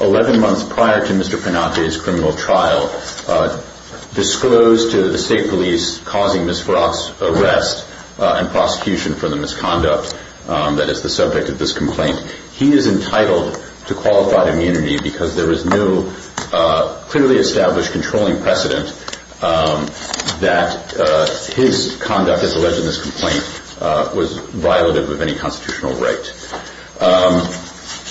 11 months prior to Mr. Panate's criminal trial, disclosed to the state police, causing Ms. Hanchett to be charged with misconduct, he is entitled to qualified immunity because there is no clearly established controlling precedent that his conduct as alleged in this complaint was violative of any constitutional right.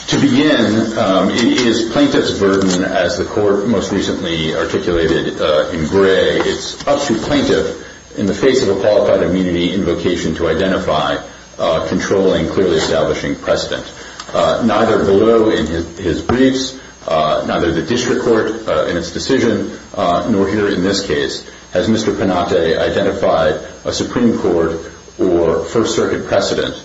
To begin, it is plaintiff's burden, as the court most recently articulated in Gray, it's up to a plaintiff in the face of a qualified immunity invocation to identify a controlling, clearly establishing precedent. Neither below in his briefs, neither the district court in its decision, nor here in this case, has Mr. Panate identified a Supreme Court or First Circuit precedent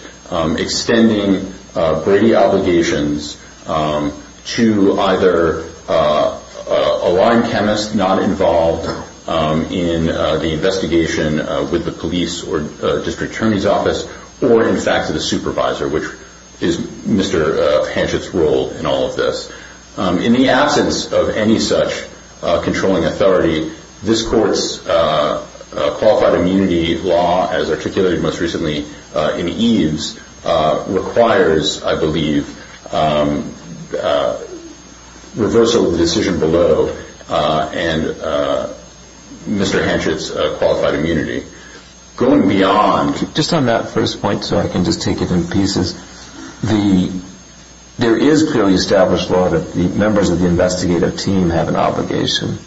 extending Brady obligations to either a line chemist not involved in the investigation with the police or district attorney's office, or in fact a supervisor, which is Mr. Hanchett's role in all of this. In the absence of any such controlling authority, this court's qualified immunity law, as articulated most recently in Eves, requires, I believe, reversal of the decision below and Mr. Hanchett's qualified immunity. Going beyond... Just on that first point, so I can just take it in pieces, there is clearly established law that the members of the investigative team have an obligation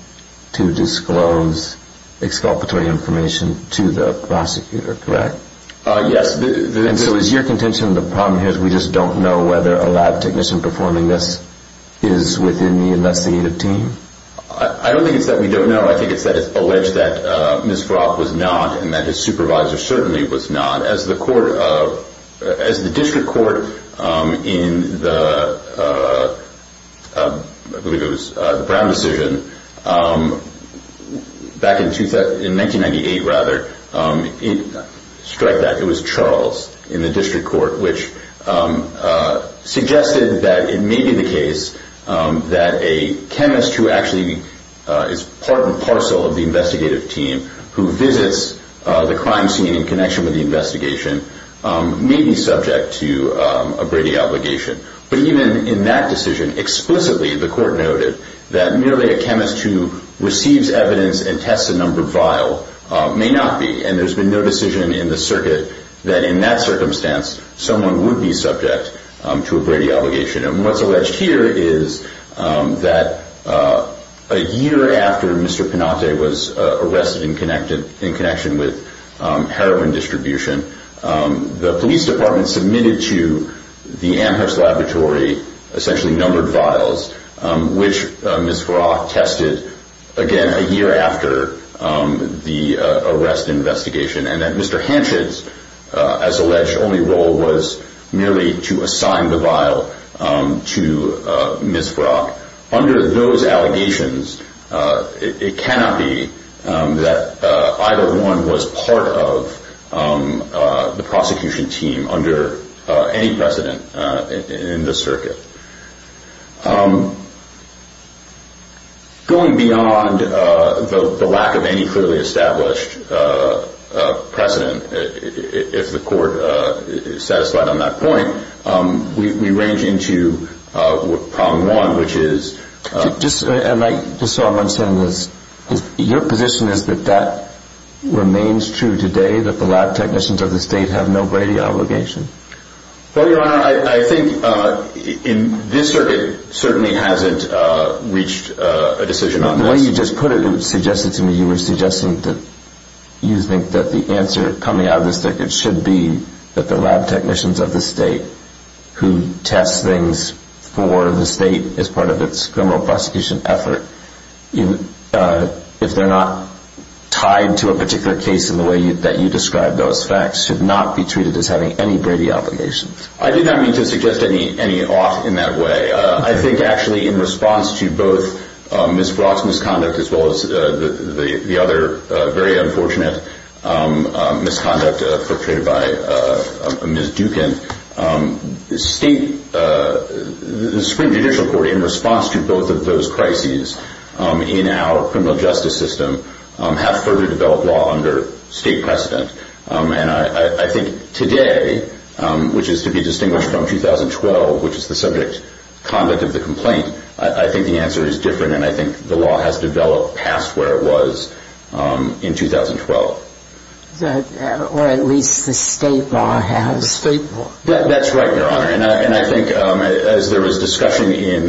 to disclose exculpatory information to the prosecutor, correct? Yes. And so is your contention the problem here is we just don't know whether a lab technician performing this is within the investigative team? I don't think it's that we don't know. I think it's that it's alleged that Ms. Froth was not and that his supervisor certainly was not. As the district court in the Brown decision back in 1998, it was Charles in the district court which suggested that it may be the case that a chemist who actually is part and parcel of the investigative team who visits the crime scene in connection with the investigation may be subject to a Brady obligation. But even in that decision, explicitly the court noted that merely a chemist who receives evidence and tests a number vial may not be. And there's been no decision in the circuit that in that circumstance someone would be subject to a Brady obligation. And what's alleged here is that a year after Mr. Panate was arrested in connection with heroin distribution, the police department submitted to the Amherst laboratory essentially numbered vials, which Ms. Froth tested again a year after the arrest investigation, and that Mr. Hanchett's, as alleged, only role was merely to assign the vial to Ms. Froth. Under those allegations, it cannot be that either one was part of the prosecution team under any precedent in the circuit. Going beyond the lack of any clearly established precedent, if the court is satisfied on that point, we range into problem one, which is... Just so I'm understanding this, your position is that that remains true today, that the lab technicians of the state have no Brady obligation? Well, Your Honor, I think in this circuit certainly hasn't reached a decision on this. The way you just put it, it was suggested to me, you were suggesting that you think that the answer coming out of this circuit should be that the lab technicians of the state who test things for the state as part of its criminal prosecution effort, if they're not tied to a particular case in the way that you described those facts, should not be treated as having any Brady obligation. I did not mean to suggest any off in that way. I think actually in response to both Ms. Froth's misconduct as well as the other very unfortunate misconduct portrayed by Ms. Dukin, the Supreme Judicial Court, in response to both of those crises in our criminal justice system, have further developed law under state precedent. And I think today, which is to be distinguished from 2012, which is the subject conduct of the complaint, I think the answer is different and I think the law has developed past where it was in 2012. Or at least the state law has. The state law. That's right, Your Honor. And I think as there was discussion in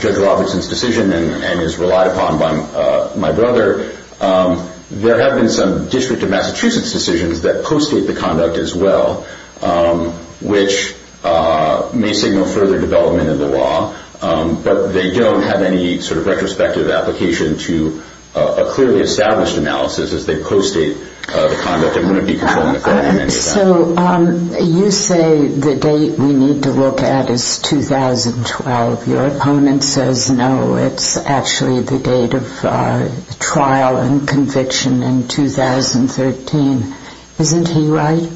Judge Robertson's decision and is relied upon by my brother, there have been some District of Massachusetts decisions that co-state the conduct as well, which may signal further development of the law. But they don't have any sort of retrospective application to a clearly established analysis as they co-state the conduct and wouldn't be controlling the court in any way. So you say the date we need to look at is 2012. Your opponent says no, it's actually the date of trial and conviction in 2013. Isn't he right?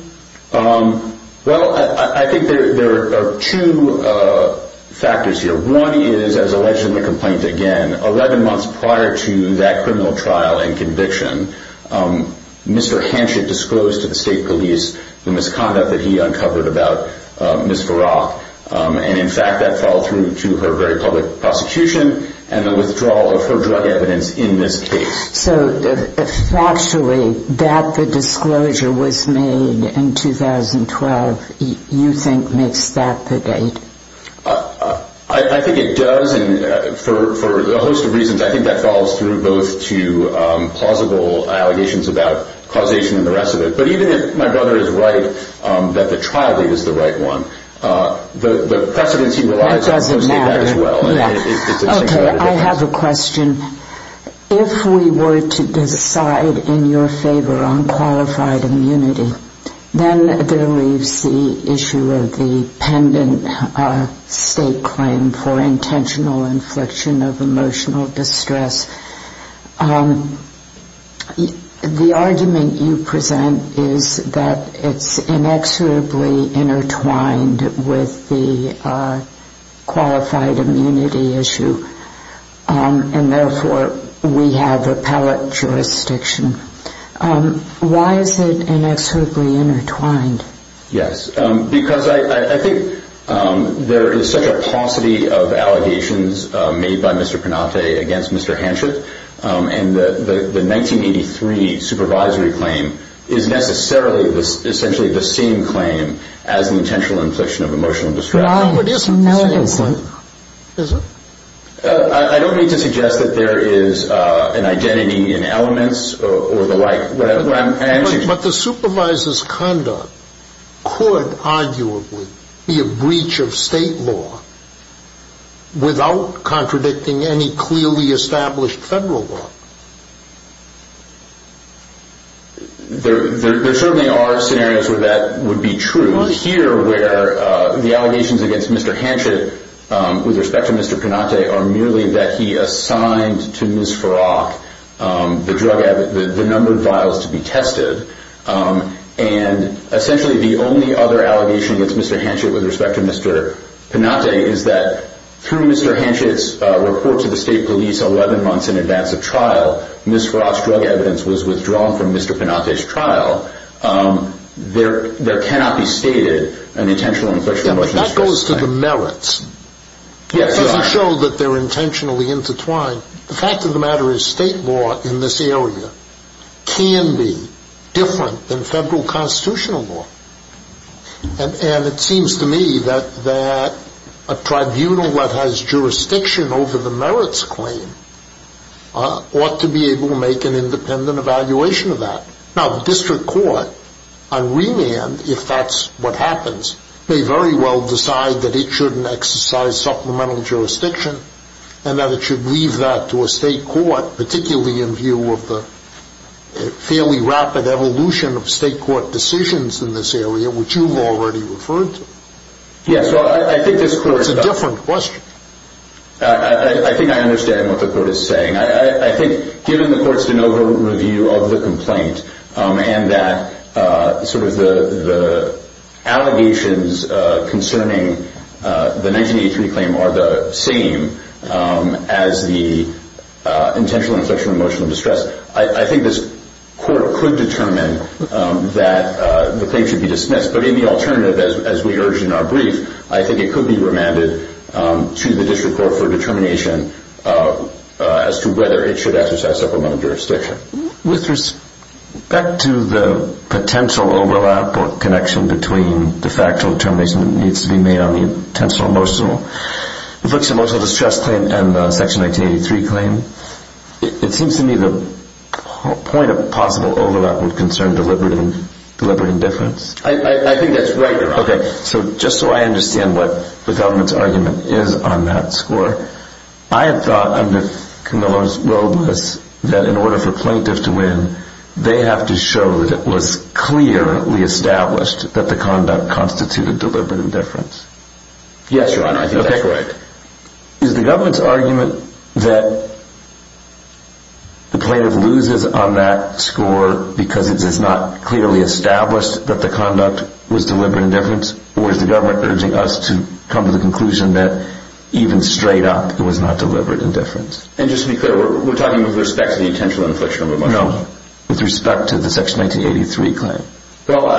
Well, I think there are two factors here. One is, as alleged in the complaint, again, 11 months prior to that criminal trial and conviction, Mr. Hanchett disclosed to the state police the misconduct that he uncovered about Ms. Varrock. And in fact, that followed through to her very public prosecution and the withdrawal of her drug evidence in this case. So factually, that the disclosure was made in 2012, you think, makes that the date? I think it does. And for a host of reasons, I think that follows through both to plausible allegations about causation and the rest of it. But even if my brother is right that the trial date is the right one, the precedence he relies on co-states that as well. That doesn't matter. Okay, I have a question. If we were to decide in your favor on qualified immunity, then there leaves the issue of the pendant state claim for intentional infliction of emotional distress. The argument you present is that it's inexorably intertwined with the qualified immunity issue. And therefore, we have appellate jurisdiction. Why is it inexorably intertwined? Yes, because I think there is such a paucity of allegations made by Mr. Penate against Mr. Hanchett. And the 1983 supervisory claim is necessarily essentially the same claim as an intentional infliction of emotional distress. No, it isn't. No, it isn't. Is it? I don't mean to suggest that there is an identity in elements or the like. But the supervisor's conduct could arguably be a breach of state law without contradicting any clearly established federal law. There certainly are scenarios where that would be true. It was here where the allegations against Mr. Hanchett with respect to Mr. Penate are merely that he assigned to Ms. Farrakh the drug, the numbered vials to be tested. And essentially, the only other allegation against Mr. Hanchett with respect to Mr. Penate is that through Mr. Hanchett's report to the state police 11 months in advance of trial, Ms. Farrakh's drug evidence was withdrawn from Mr. Penate's trial. There cannot be stated an intentional infliction of emotional distress. But that goes to the merits. Yes, it does. Does it show that they're intentionally intertwined? The fact of the matter is state law in this area can be different than federal constitutional law. And it seems to me that a tribunal that has jurisdiction over the merits claim ought to be able to make an independent evaluation of that. Now, the district court on remand, if that's what happens, may very well decide that it shouldn't exercise supplemental jurisdiction and that it should leave that to a state court, particularly in view of the fairly rapid evolution of state court decisions in this area, which you've already referred to. Yes. I think this court's a different question. I think I understand what the court is saying. I think given the court's de novo review of the complaint and that sort of the allegations concerning the 1983 claim are the same as the intentional inflection of emotional distress, I think this court could determine that the claim should be dismissed. But in the alternative, as we urged in our brief, I think it could be remanded to the district court for determination as to whether it should exercise supplemental jurisdiction. With respect to the potential overlap or connection between the factual determination that needs to be made on the intentional emotional inflection of emotional distress claim and the section 1983 claim, it seems to me the point of possible overlap would concern deliberate indifference. I think that's right, Your Honor. Okay. So just so I understand what the government's argument is on that score, I have thought under Camillo's road list that in order for plaintiff to win, they have to show that it was clearly established that the conduct constituted deliberate indifference. Yes, Your Honor. I think that's right. Is the government's argument that the plaintiff loses on that score because it is not clearly established that the conduct was deliberate indifference, or is the government urging us to come to the conclusion that even straight up it was not deliberate indifference? And just to be clear, we're talking with respect to the intentional inflection of emotional distress? No, with respect to the section 1983 claim. Well,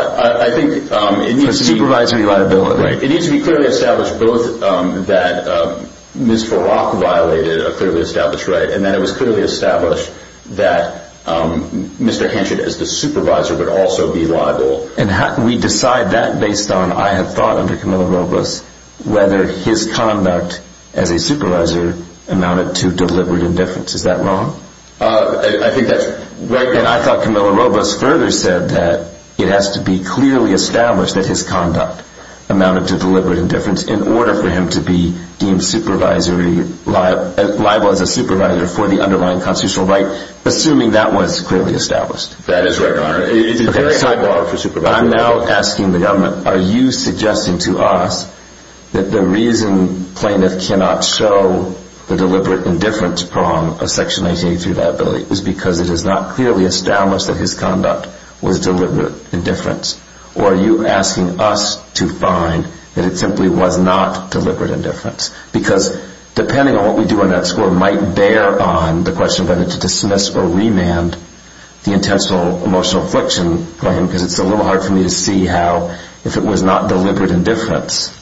I think it needs to be… For supervisory liability. It needs to be clearly established both that Ms. Farrakh violated a clearly established right, and that it was clearly established that Mr. Hanchett as the supervisor would also be liable. And we decide that based on, I have thought under Camillo Robles, whether his conduct as a supervisor amounted to deliberate indifference. Is that wrong? I think that's right. And I thought Camillo Robles further said that it has to be clearly established that his conduct amounted to deliberate indifference in order for him to be deemed liable as a supervisor for the underlying constitutional right, assuming that was clearly established. That is right, Your Honor. It is a very high bar for supervisory liability. I'm now asking the government, are you suggesting to us that the reason plaintiff cannot show the deliberate indifference prong of section 1983 liability is because it is not clearly established that his conduct was deliberate indifference? Or are you asking us to find that it simply was not deliberate indifference? Because depending on what we do on that score might bear on the question of whether to dismiss or remand the intentional emotional affliction claim, because it's a little hard for me to see how, if it was not deliberate indifference,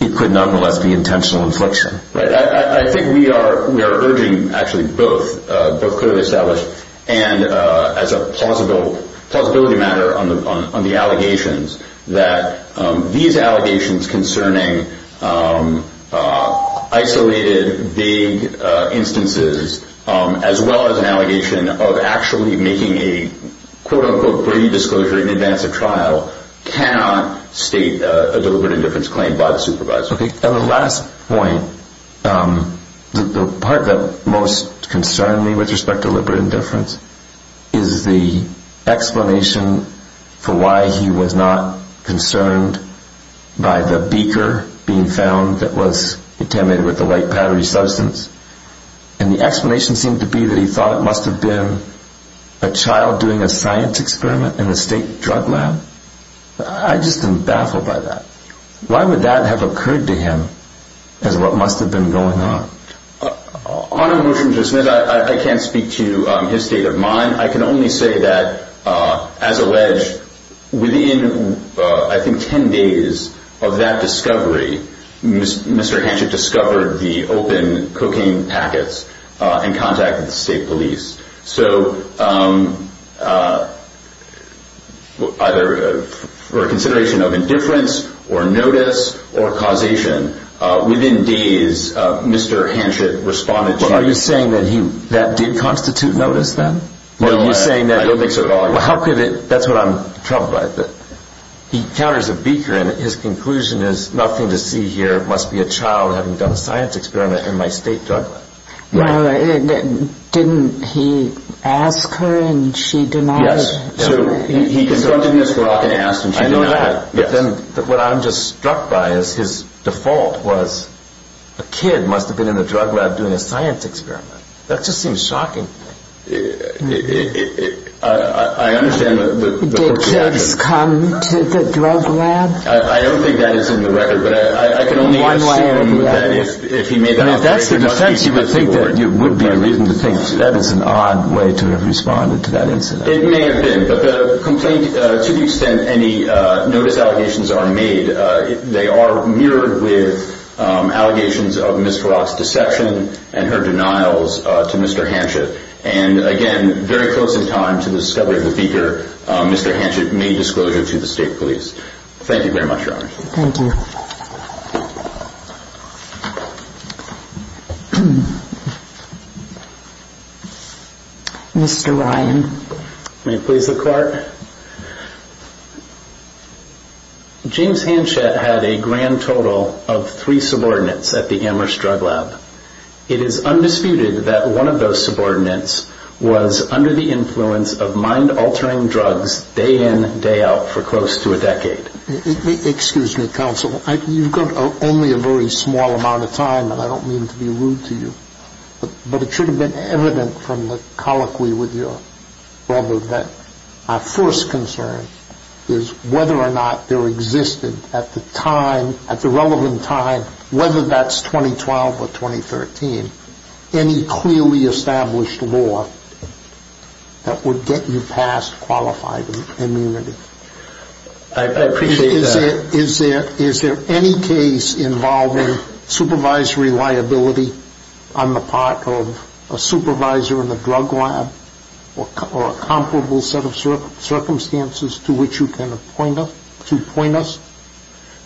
it could nonetheless be intentional affliction. Right. I think we are urging actually both, both clearly established and as a plausibility matter on the allegations, that these allegations concerning isolated, vague instances, as well as an allegation of actually making a, quote-unquote, greedy disclosure in advance of trial, cannot state a deliberate indifference claim by the supervisor. At the last point, the part that most concerned me with respect to deliberate indifference is the explanation for why he was not concerned by the beaker being found that was contaminated with a light powdery substance. And the explanation seemed to be that he thought it must have been a child doing a science experiment in a state drug lab. I just am baffled by that. Why would that have occurred to him as what must have been going on? On a motion to dismiss, I can't speak to his state of mind. I can only say that, as alleged, within, I think, 10 days of that discovery, Mr. Hanchett discovered the open cocaine packets and contacted the state police. So either for consideration of indifference or notice or causation, within days, Mr. Hanchett responded. Are you saying that that did constitute notice then? I don't think so at all. That's what I'm troubled by. He encounters a beaker, and his conclusion is, nothing to see here. It must be a child having done a science experiment in my state drug lab. Didn't he ask her, and she denied it? Yes. So he confronted Ms. Clark and asked, and she denied it. I know that. But then what I'm just struck by is his default was, a kid must have been in the drug lab doing a science experiment. That just seems shocking. Did kids come to the drug lab? I don't think that is in the record, but I can only assume that if he made that operation, it would be a reason to think that is an odd way to have responded to that incident. It may have been, but to the extent any notice allegations are made, they are mirrored with allegations of Ms. Clark's deception and her denials to Mr. Hanchett. And again, very close in time to the discovery of the beaker, Mr. Hanchett made disclosure to the state police. Thank you very much, Your Honor. Thank you. Mr. Ryan. May it please the Court. James Hanchett had a grand total of three subordinates at the Amherst Drug Lab. It is undisputed that one of those subordinates was under the influence of mind-altering drugs day in, day out for close to a decade. Excuse me, Counsel. You've got only a very small amount of time, and I don't mean to be rude to you, but it should have been evident from the colloquy with your brother that our first concern is whether or not there existed at the time, at the relevant time, whether that's 2012 or 2013, any clearly established law that would get you past qualified immunity. I appreciate that. Is there any case involving supervisory liability on the part of a supervisor in the drug lab or a comparable set of circumstances to which you can appoint us?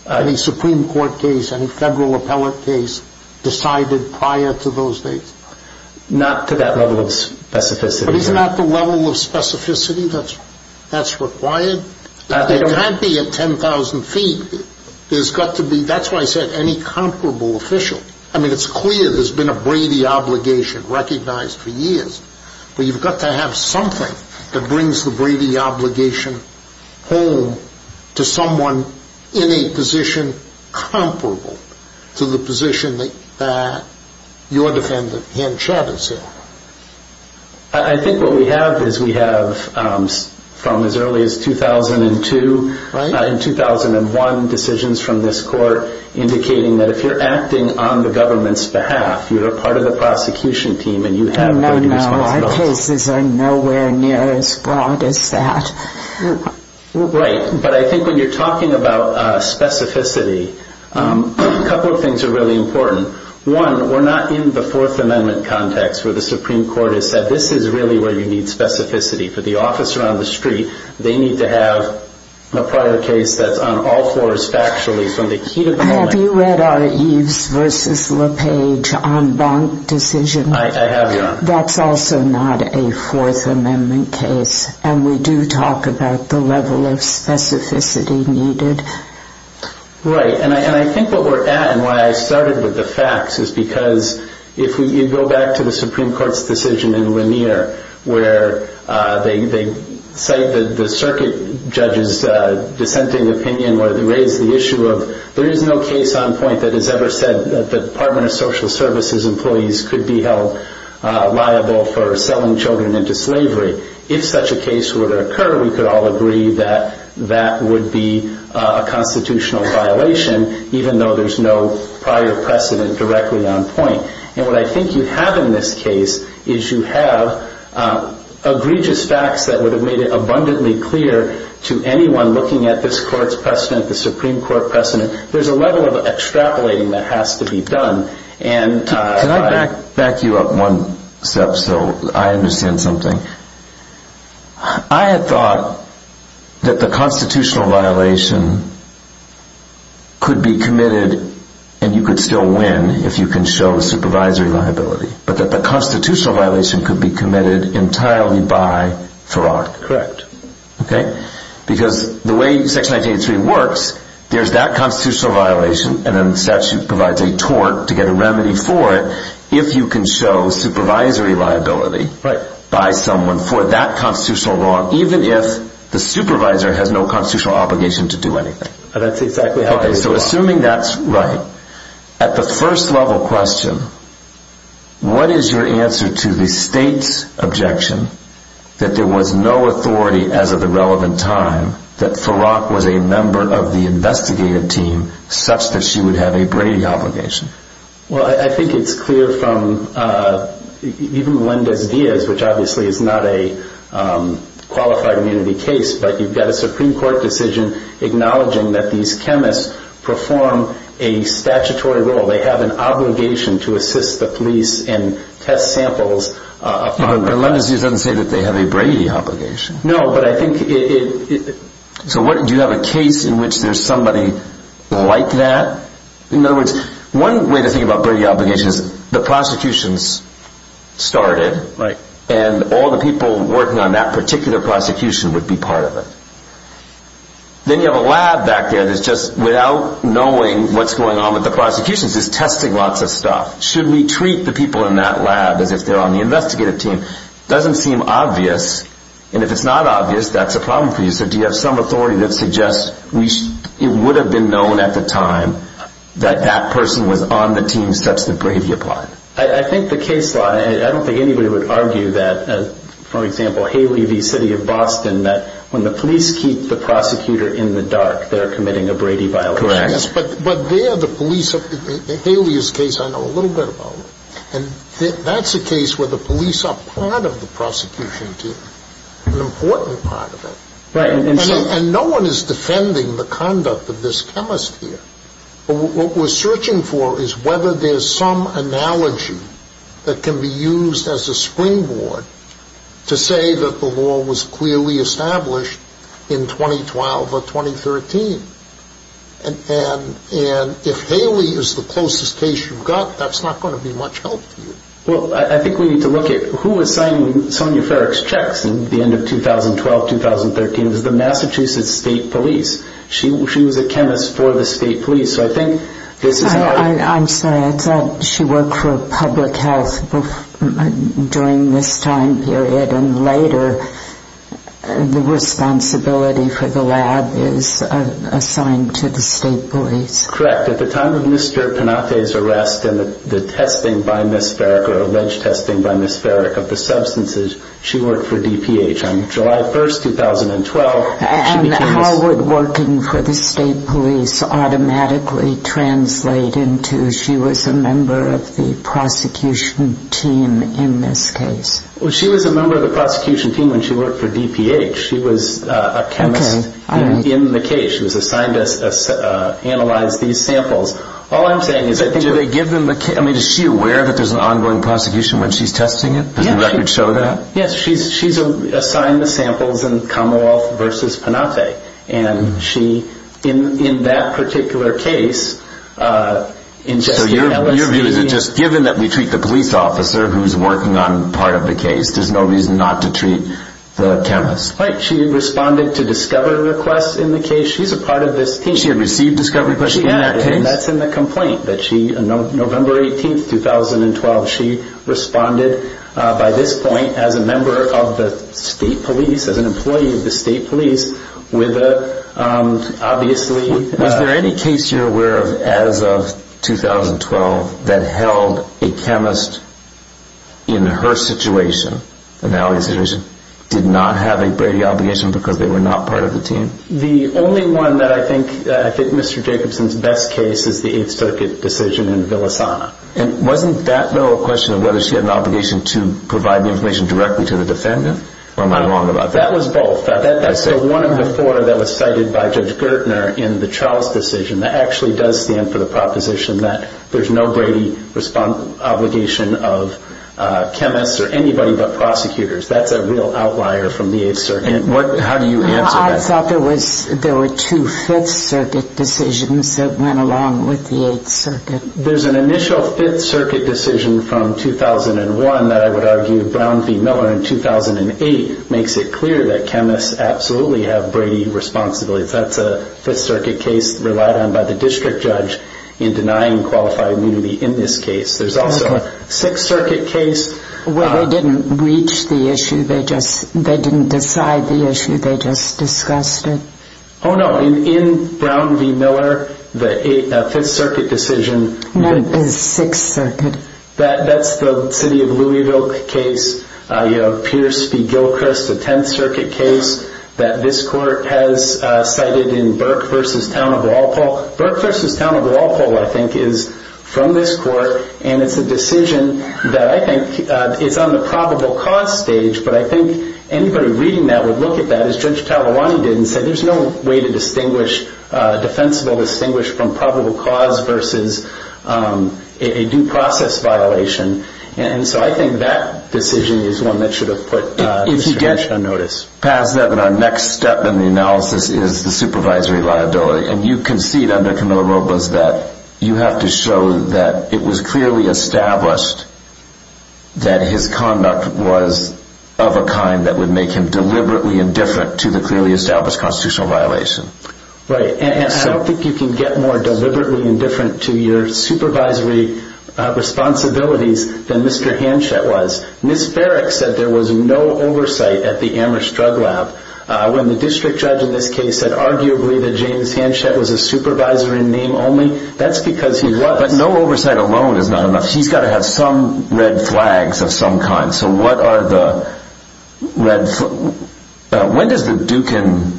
Any Supreme Court case, any federal appellate case decided prior to those days? Not to that level of specificity, Your Honor. But is not the level of specificity that's required? It can't be at 10,000 feet. There's got to be, that's why I said any comparable official. I mean, it's clear there's been a Brady obligation recognized for years, but you've got to have something that brings the Brady obligation home to someone in a position comparable to the position that your defendant, Hann Chabot, is in. I think what we have is we have from as early as 2002 and 2001 decisions from this court indicating that if you're acting on the government's behalf, you're a part of the prosecution team and you have Brady responsibilities. No, no, our cases are nowhere near as broad as that. Right, but I think when you're talking about specificity, a couple of things are really important. One, we're not in the Fourth Amendment context where the Supreme Court has said, this is really where you need specificity. For the officer on the street, they need to have a prior case that's on all fours factually. Have you read our Eves v. LePage en banc decision? I have, Your Honor. That's also not a Fourth Amendment case, and we do talk about the level of specificity needed. Right, and I think what we're at, and why I started with the facts, is because if you go back to the Supreme Court's decision in Lanier where they cite the circuit judge's dissenting opinion where they raise the issue of there is no case on point that has ever said that the Department of Social Services employees could be held liable for selling children into slavery. If such a case were to occur, we could all agree that that would be a constitutional violation, even though there's no prior precedent directly on point. And what I think you have in this case is you have egregious facts that would have made it abundantly clear to anyone looking at this Court's precedent, the Supreme Court precedent, there's a level of extrapolating that has to be done. Can I back you up one step so I understand something? I had thought that the constitutional violation could be committed, and you could still win if you can show the supervisory liability, but that the constitutional violation could be committed entirely by Farrar. Correct. Because the way Section 1983 works, there's that constitutional violation, and then the statute provides a tort to get a remedy for it, if you can show supervisory liability by someone for that constitutional law, even if the supervisor has no constitutional obligation to do anything. That's exactly how it is. Okay, so assuming that's right, at the first level question, what is your answer to the State's objection that there was no authority as of the relevant time that Farrar was a member of the investigative team such that she would have a Brady obligation? Well, I think it's clear from even Melendez-Diaz, which obviously is not a qualified immunity case, but you've got a Supreme Court decision acknowledging that these chemists perform a statutory role. They have an obligation to assist the police in test samples. But Melendez-Diaz doesn't say that they have a Brady obligation. No, but I think it... So do you have a case in which there's somebody like that? In other words, one way to think about Brady obligations, the prosecutions started, and all the people working on that particular prosecution would be part of it. Then you have a lab back there that's just, without knowing what's going on with the prosecutions, is testing lots of stuff. Should we treat the people in that lab as if they're on the investigative team? It doesn't seem obvious, and if it's not obvious, that's a problem for you. So do you have some authority that suggests it would have been known at the time that that person was on the team such that Brady applied? I think the case law, and I don't think anybody would argue that, for example, Haley v. City of Boston, that when the police keep the prosecutor in the dark, they're committing a Brady violation. Correct. But there the police... Haley's case I know a little bit about. And that's a case where the police are part of the prosecution team, an important part of it. Right. And no one is defending the conduct of this chemist here. What we're searching for is whether there's some analogy that can be used as a springboard to say that the law was clearly established in 2012 or 2013. And if Haley is the closest case you've got, that's not going to be much help to you. Well, I think we need to look at who was signing Sonja Farrick's checks in the end of 2012, 2013. It was the Massachusetts State Police. She was a chemist for the State Police, so I think this is how... I'm sorry. I thought she worked for public health during this time period, and later the responsibility for the lab is assigned to the State Police. Correct. At the time of Mr. Panate's arrest and the testing by Ms. Farrick, or alleged testing by Ms. Farrick of the substances, she worked for DPH. On July 1, 2012, she became... And how would working for the State Police automatically translate into she was a member of the prosecution team in this case? Well, she was a member of the prosecution team when she worked for DPH. She was a chemist in the case. She was assigned to analyze these samples. All I'm saying is... Do they give them the... I mean, is she aware that there's an ongoing prosecution when she's testing it? Does the record show that? Yes, she's assigned the samples in Commonwealth v. Panate. And she, in that particular case, ingested LSD... in the case. There's no reason not to treat the chemist. Right. She responded to discovery requests in the case. She's a part of this team. She had received discovery requests in that case? She had. And that's in the complaint that she, on November 18, 2012, she responded by this point as a member of the State Police, as an employee of the State Police, with a, obviously... Was there any case you're aware of, as of 2012, that held a chemist in her situation, an alley situation, did not have a Brady obligation because they were not part of the team? The only one that I think Mr. Jacobson's best case is the Eighth Circuit decision in Villasana. And wasn't that, though, a question of whether she had an obligation to provide the information directly to the defendant? Or am I wrong about that? That was both. That's the one of the four that was cited by Judge Gertner in the Charles decision that actually does stand for the proposition that there's no Brady obligation of chemists or anybody but prosecutors. That's a real outlier from the Eighth Circuit. How do you answer that? I thought there were two Fifth Circuit decisions that went along with the Eighth Circuit. There's an initial Fifth Circuit decision from 2001 that I would argue Brown v. Miller in 2008 makes it clear that chemists absolutely have Brady responsibilities. That's a Fifth Circuit case relied on by the district judge in denying qualified immunity in this case. There's also a Sixth Circuit case. Where they didn't reach the issue. They didn't decide the issue. They just discussed it. Oh, no. In Brown v. Miller, the Fifth Circuit decision. No, the Sixth Circuit. That's the city of Louisville case. Pierce v. Gilchrist, the Tenth Circuit case that this court has cited in Burke v. Town of Walpole. Burke v. Town of Walpole, I think, is from this court. And it's a decision that I think is on the probable cause stage. But I think anybody reading that would look at that as Judge Talawani did and say there's no way to distinguish, defensible distinguish from probable cause versus a due process violation. And so I think that decision is one that should have put the district judge on notice. If he gets past that, then our next step in the analysis is the supervisory liability. And you concede under Kamala Robles that you have to show that it was clearly established that his conduct was of a kind that would make him deliberately indifferent to the clearly established constitutional violation. Right. And I don't think you can get more deliberately indifferent to your supervisory responsibilities than Mr. Hanchett was. Ms. Farrick said there was no oversight at the Amherst Drug Lab. When the district judge in this case said arguably that James Hanchett was a supervisor in name only, that's because he was. But no oversight alone is not enough. He's got to have some red flags of some kind. So what are the red flags? When does the Dukin,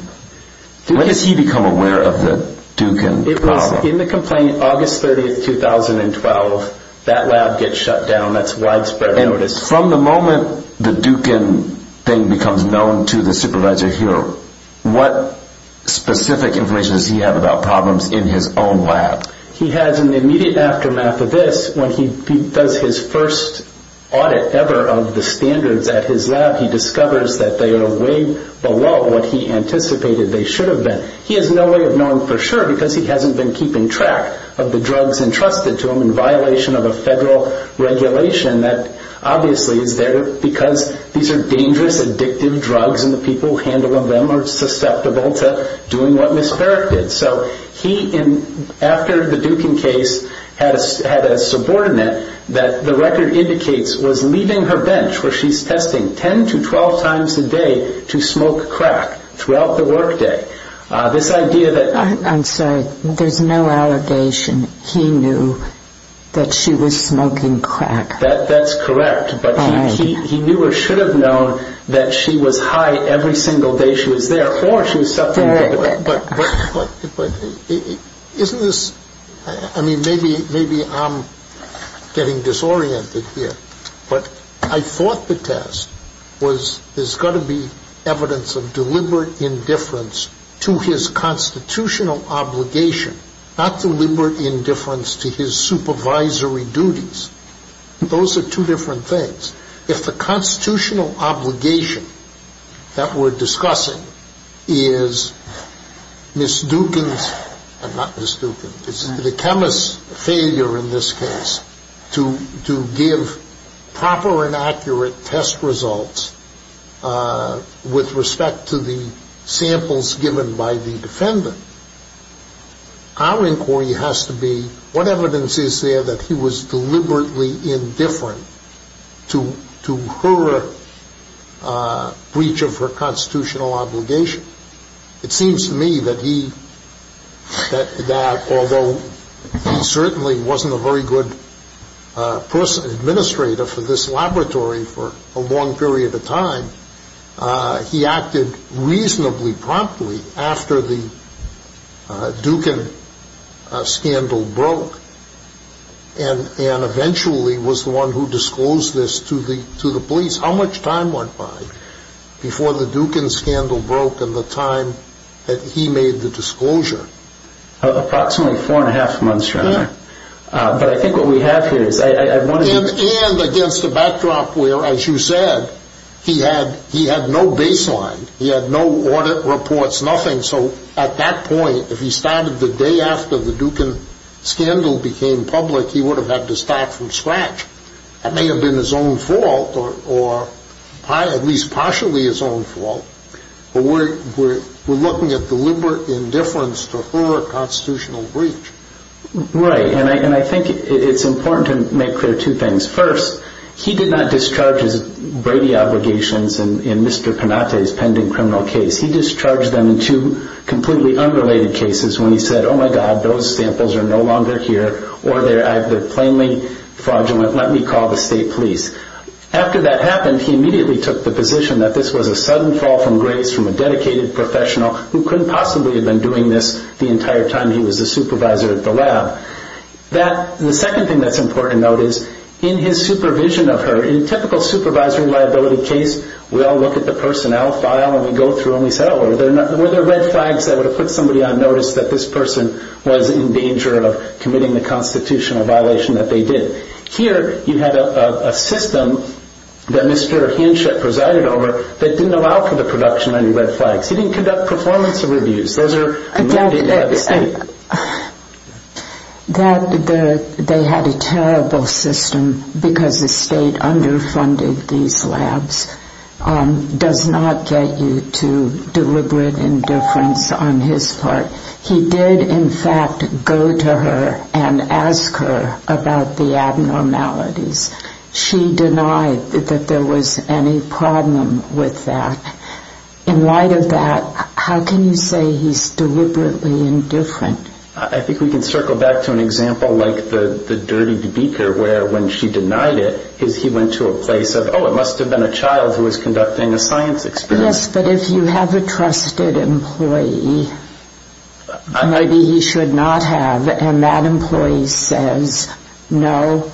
when does he become aware of the Dukin problem? It was in the complaint August 30, 2012. That lab gets shut down. That's widespread notice. And from the moment the Dukin thing becomes known to the supervisor here, what specific information does he have about problems in his own lab? He has an immediate aftermath of this. When he does his first audit ever of the standards at his lab, he discovers that they are way below what he anticipated they should have been. He has no way of knowing for sure because he hasn't been keeping track of the drugs entrusted to him in violation of a federal regulation that obviously is there because these are dangerous, addictive drugs and the people who handle them are susceptible to doing what Ms. Farrick did. So he, after the Dukin case, had a subordinate that the record indicates was leaving her bench where she's testing 10 to 12 times a day to smoke crack throughout the workday. This idea that – I'm sorry. There's no allegation he knew that she was smoking crack. That's correct. But he knew or should have known that she was high every single day she was there or she was suffering from – But isn't this – I mean, maybe I'm getting disoriented here. But I thought the test was there's got to be evidence of deliberate indifference to his constitutional obligation, not deliberate indifference to his supervisory duties. Those are two different things. If the constitutional obligation that we're discussing is Ms. Dukin's – not Ms. Dukin. It's the chemist's failure in this case to give proper and accurate test results with respect to the samples given by the defendant. Our inquiry has to be what evidence is there that he was deliberately indifferent to her breach of her constitutional obligation. It seems to me that he – that although he certainly wasn't a very good person, administrator for this laboratory for a long period of time, he acted reasonably promptly after the Dukin scandal broke and eventually was the one who disclosed this to the police. How much time went by before the Dukin scandal broke and the time that he made the disclosure? Approximately four and a half months, rather. But I think what we have here is – And against a backdrop where, as you said, he had no baseline. He had no audit reports, nothing. So at that point, if he started the day after the Dukin scandal became public, he would have had to start from scratch. That may have been his own fault or at least partially his own fault, but we're looking at deliberate indifference to her constitutional breach. Right, and I think it's important to make clear two things. First, he did not discharge his Brady obligations in Mr. Panate's pending criminal case. He discharged them in two completely unrelated cases when he said, Oh, my God, those samples are no longer here or they're plainly fraudulent. Let me call the state police. After that happened, he immediately took the position that this was a sudden fall from grace from a dedicated professional who couldn't possibly have been doing this the entire time he was a supervisor at the lab. The second thing that's important to note is in his supervision of her, in a typical supervisory liability case, we all look at the personnel file and we go through and we say, Oh, were there red flags that would have put somebody on notice that this person was in danger of committing the constitutional violation that they did? Here, you had a system that Mr. Hinshet presided over that didn't allow for the production of any red flags. He didn't conduct performance reviews. Those are limited by the state. They had a terrible system because the state underfunded these labs. It does not get you to deliberate indifference on his part. He did, in fact, go to her and ask her about the abnormalities. She denied that there was any problem with that. In light of that, how can you say he's deliberately indifferent? I think we can circle back to an example like the dirty beaker where when she denied it, he went to a place of, Oh, it must have been a child who was conducting a science experiment. Yes, but if you have a trusted employee, maybe he should not have, and that employee says, No,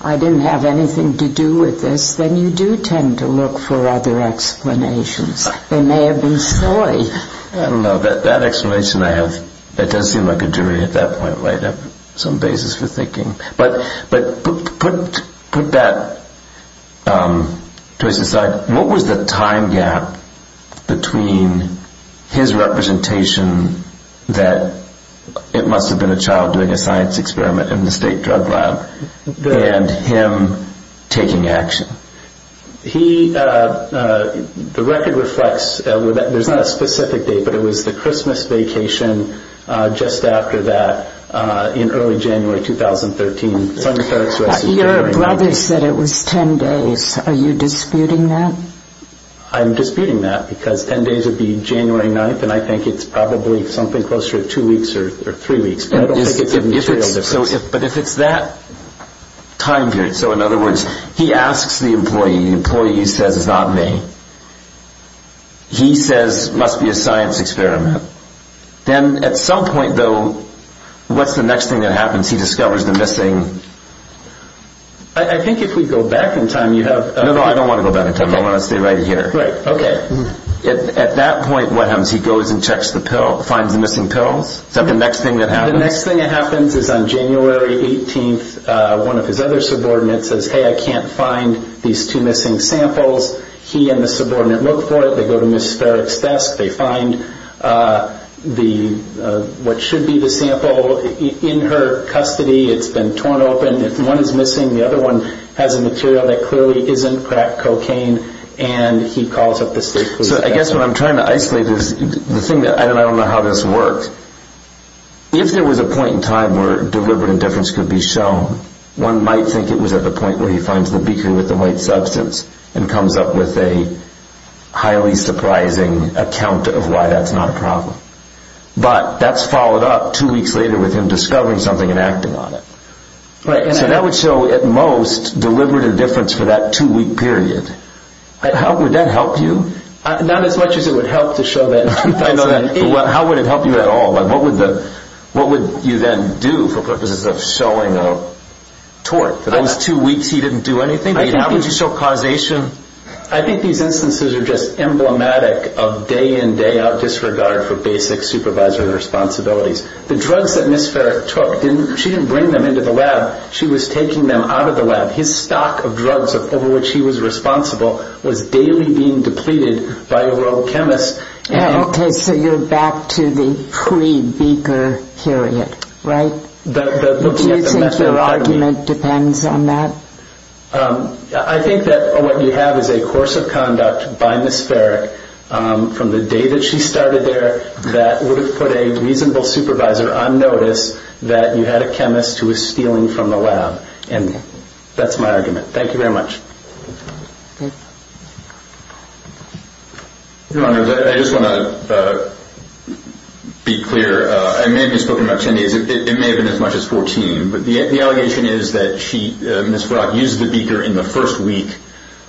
I didn't have anything to do with this, then you do tend to look for other explanations. They may have been silly. I don't know. That explanation I have, that does seem like a jury at that point. I have some basis for thinking. But put that choice aside. What was the time gap between his representation that it must have been a child doing a science experiment in the state drug lab and him taking action? The record reflects, there's not a specific date, but it was the Christmas vacation just after that in early January 2013. Your brother said it was ten days. Are you disputing that? I'm disputing that because ten days would be January 9th, and I think it's probably something closer to two weeks or three weeks. But if it's that time period, so in other words, he asks the employee, the employee says, It's not me. He says, It must be a science experiment. Then at some point, though, what's the next thing that happens? He discovers the missing... I think if we go back in time, you have... No, no, I don't want to go back in time. I want to stay right here. Right, okay. At that point, what happens? He goes and checks the pill, finds the missing pills? Is that the next thing that happens? The next thing that happens is on January 18th, one of his other subordinates says, Okay, I can't find these two missing samples. He and the subordinate look for it. They go to Ms. Farrick's desk. They find what should be the sample. In her custody, it's been torn open. If one is missing, the other one has a material that clearly isn't crack cocaine, and he calls up the state police. So I guess what I'm trying to isolate is the thing that I don't know how this works. If there was a point in time where deliberate indifference could be shown, one might think it was at the point where he finds the beaker with the white substance and comes up with a highly surprising account of why that's not a problem. But that's followed up two weeks later with him discovering something and acting on it. So that would show, at most, deliberate indifference for that two-week period. How would that help you? Not as much as it would help to show that in 2008. How would it help you at all? What would you then do for purposes of showing a tort? For those two weeks he didn't do anything? How would you show causation? I think these instances are just emblematic of day-in, day-out disregard for basic supervisory responsibilities. The drugs that Ms. Farrick took, she didn't bring them into the lab. She was taking them out of the lab. His stock of drugs over which he was responsible was daily being depleted by a world chemist. Okay, so you're back to the pre-beaker period, right? Do you think your argument depends on that? I think that what you have is a course of conduct by Ms. Farrick from the day that she started there that would have put a reasonable supervisor on notice that you had a chemist who was stealing from the lab. And that's my argument. Thank you very much. Thank you. Your Honor, I just want to be clear. I may have just spoken about 10 days. It may have been as much as 14. But the allegation is that Ms. Farrick used the beaker in the first week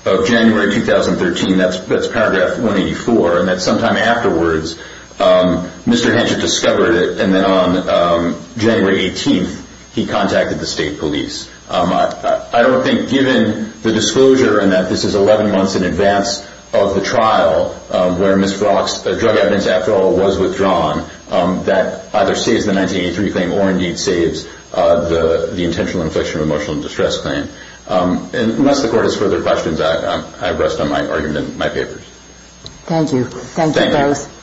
of January 2013. That's paragraph 184. And that sometime afterwards Mr. Henshaw discovered it, and then on January 18th he contacted the state police. I don't think given the disclosure and that this is 11 months in advance of the trial where Ms. Farrick's drug evidence, after all, was withdrawn, that either saves the 1983 claim or indeed saves the intentional infliction of emotional distress claim. Unless the Court has further questions, I rest on my argument in my papers. Thank you. Thank you both. Thank you.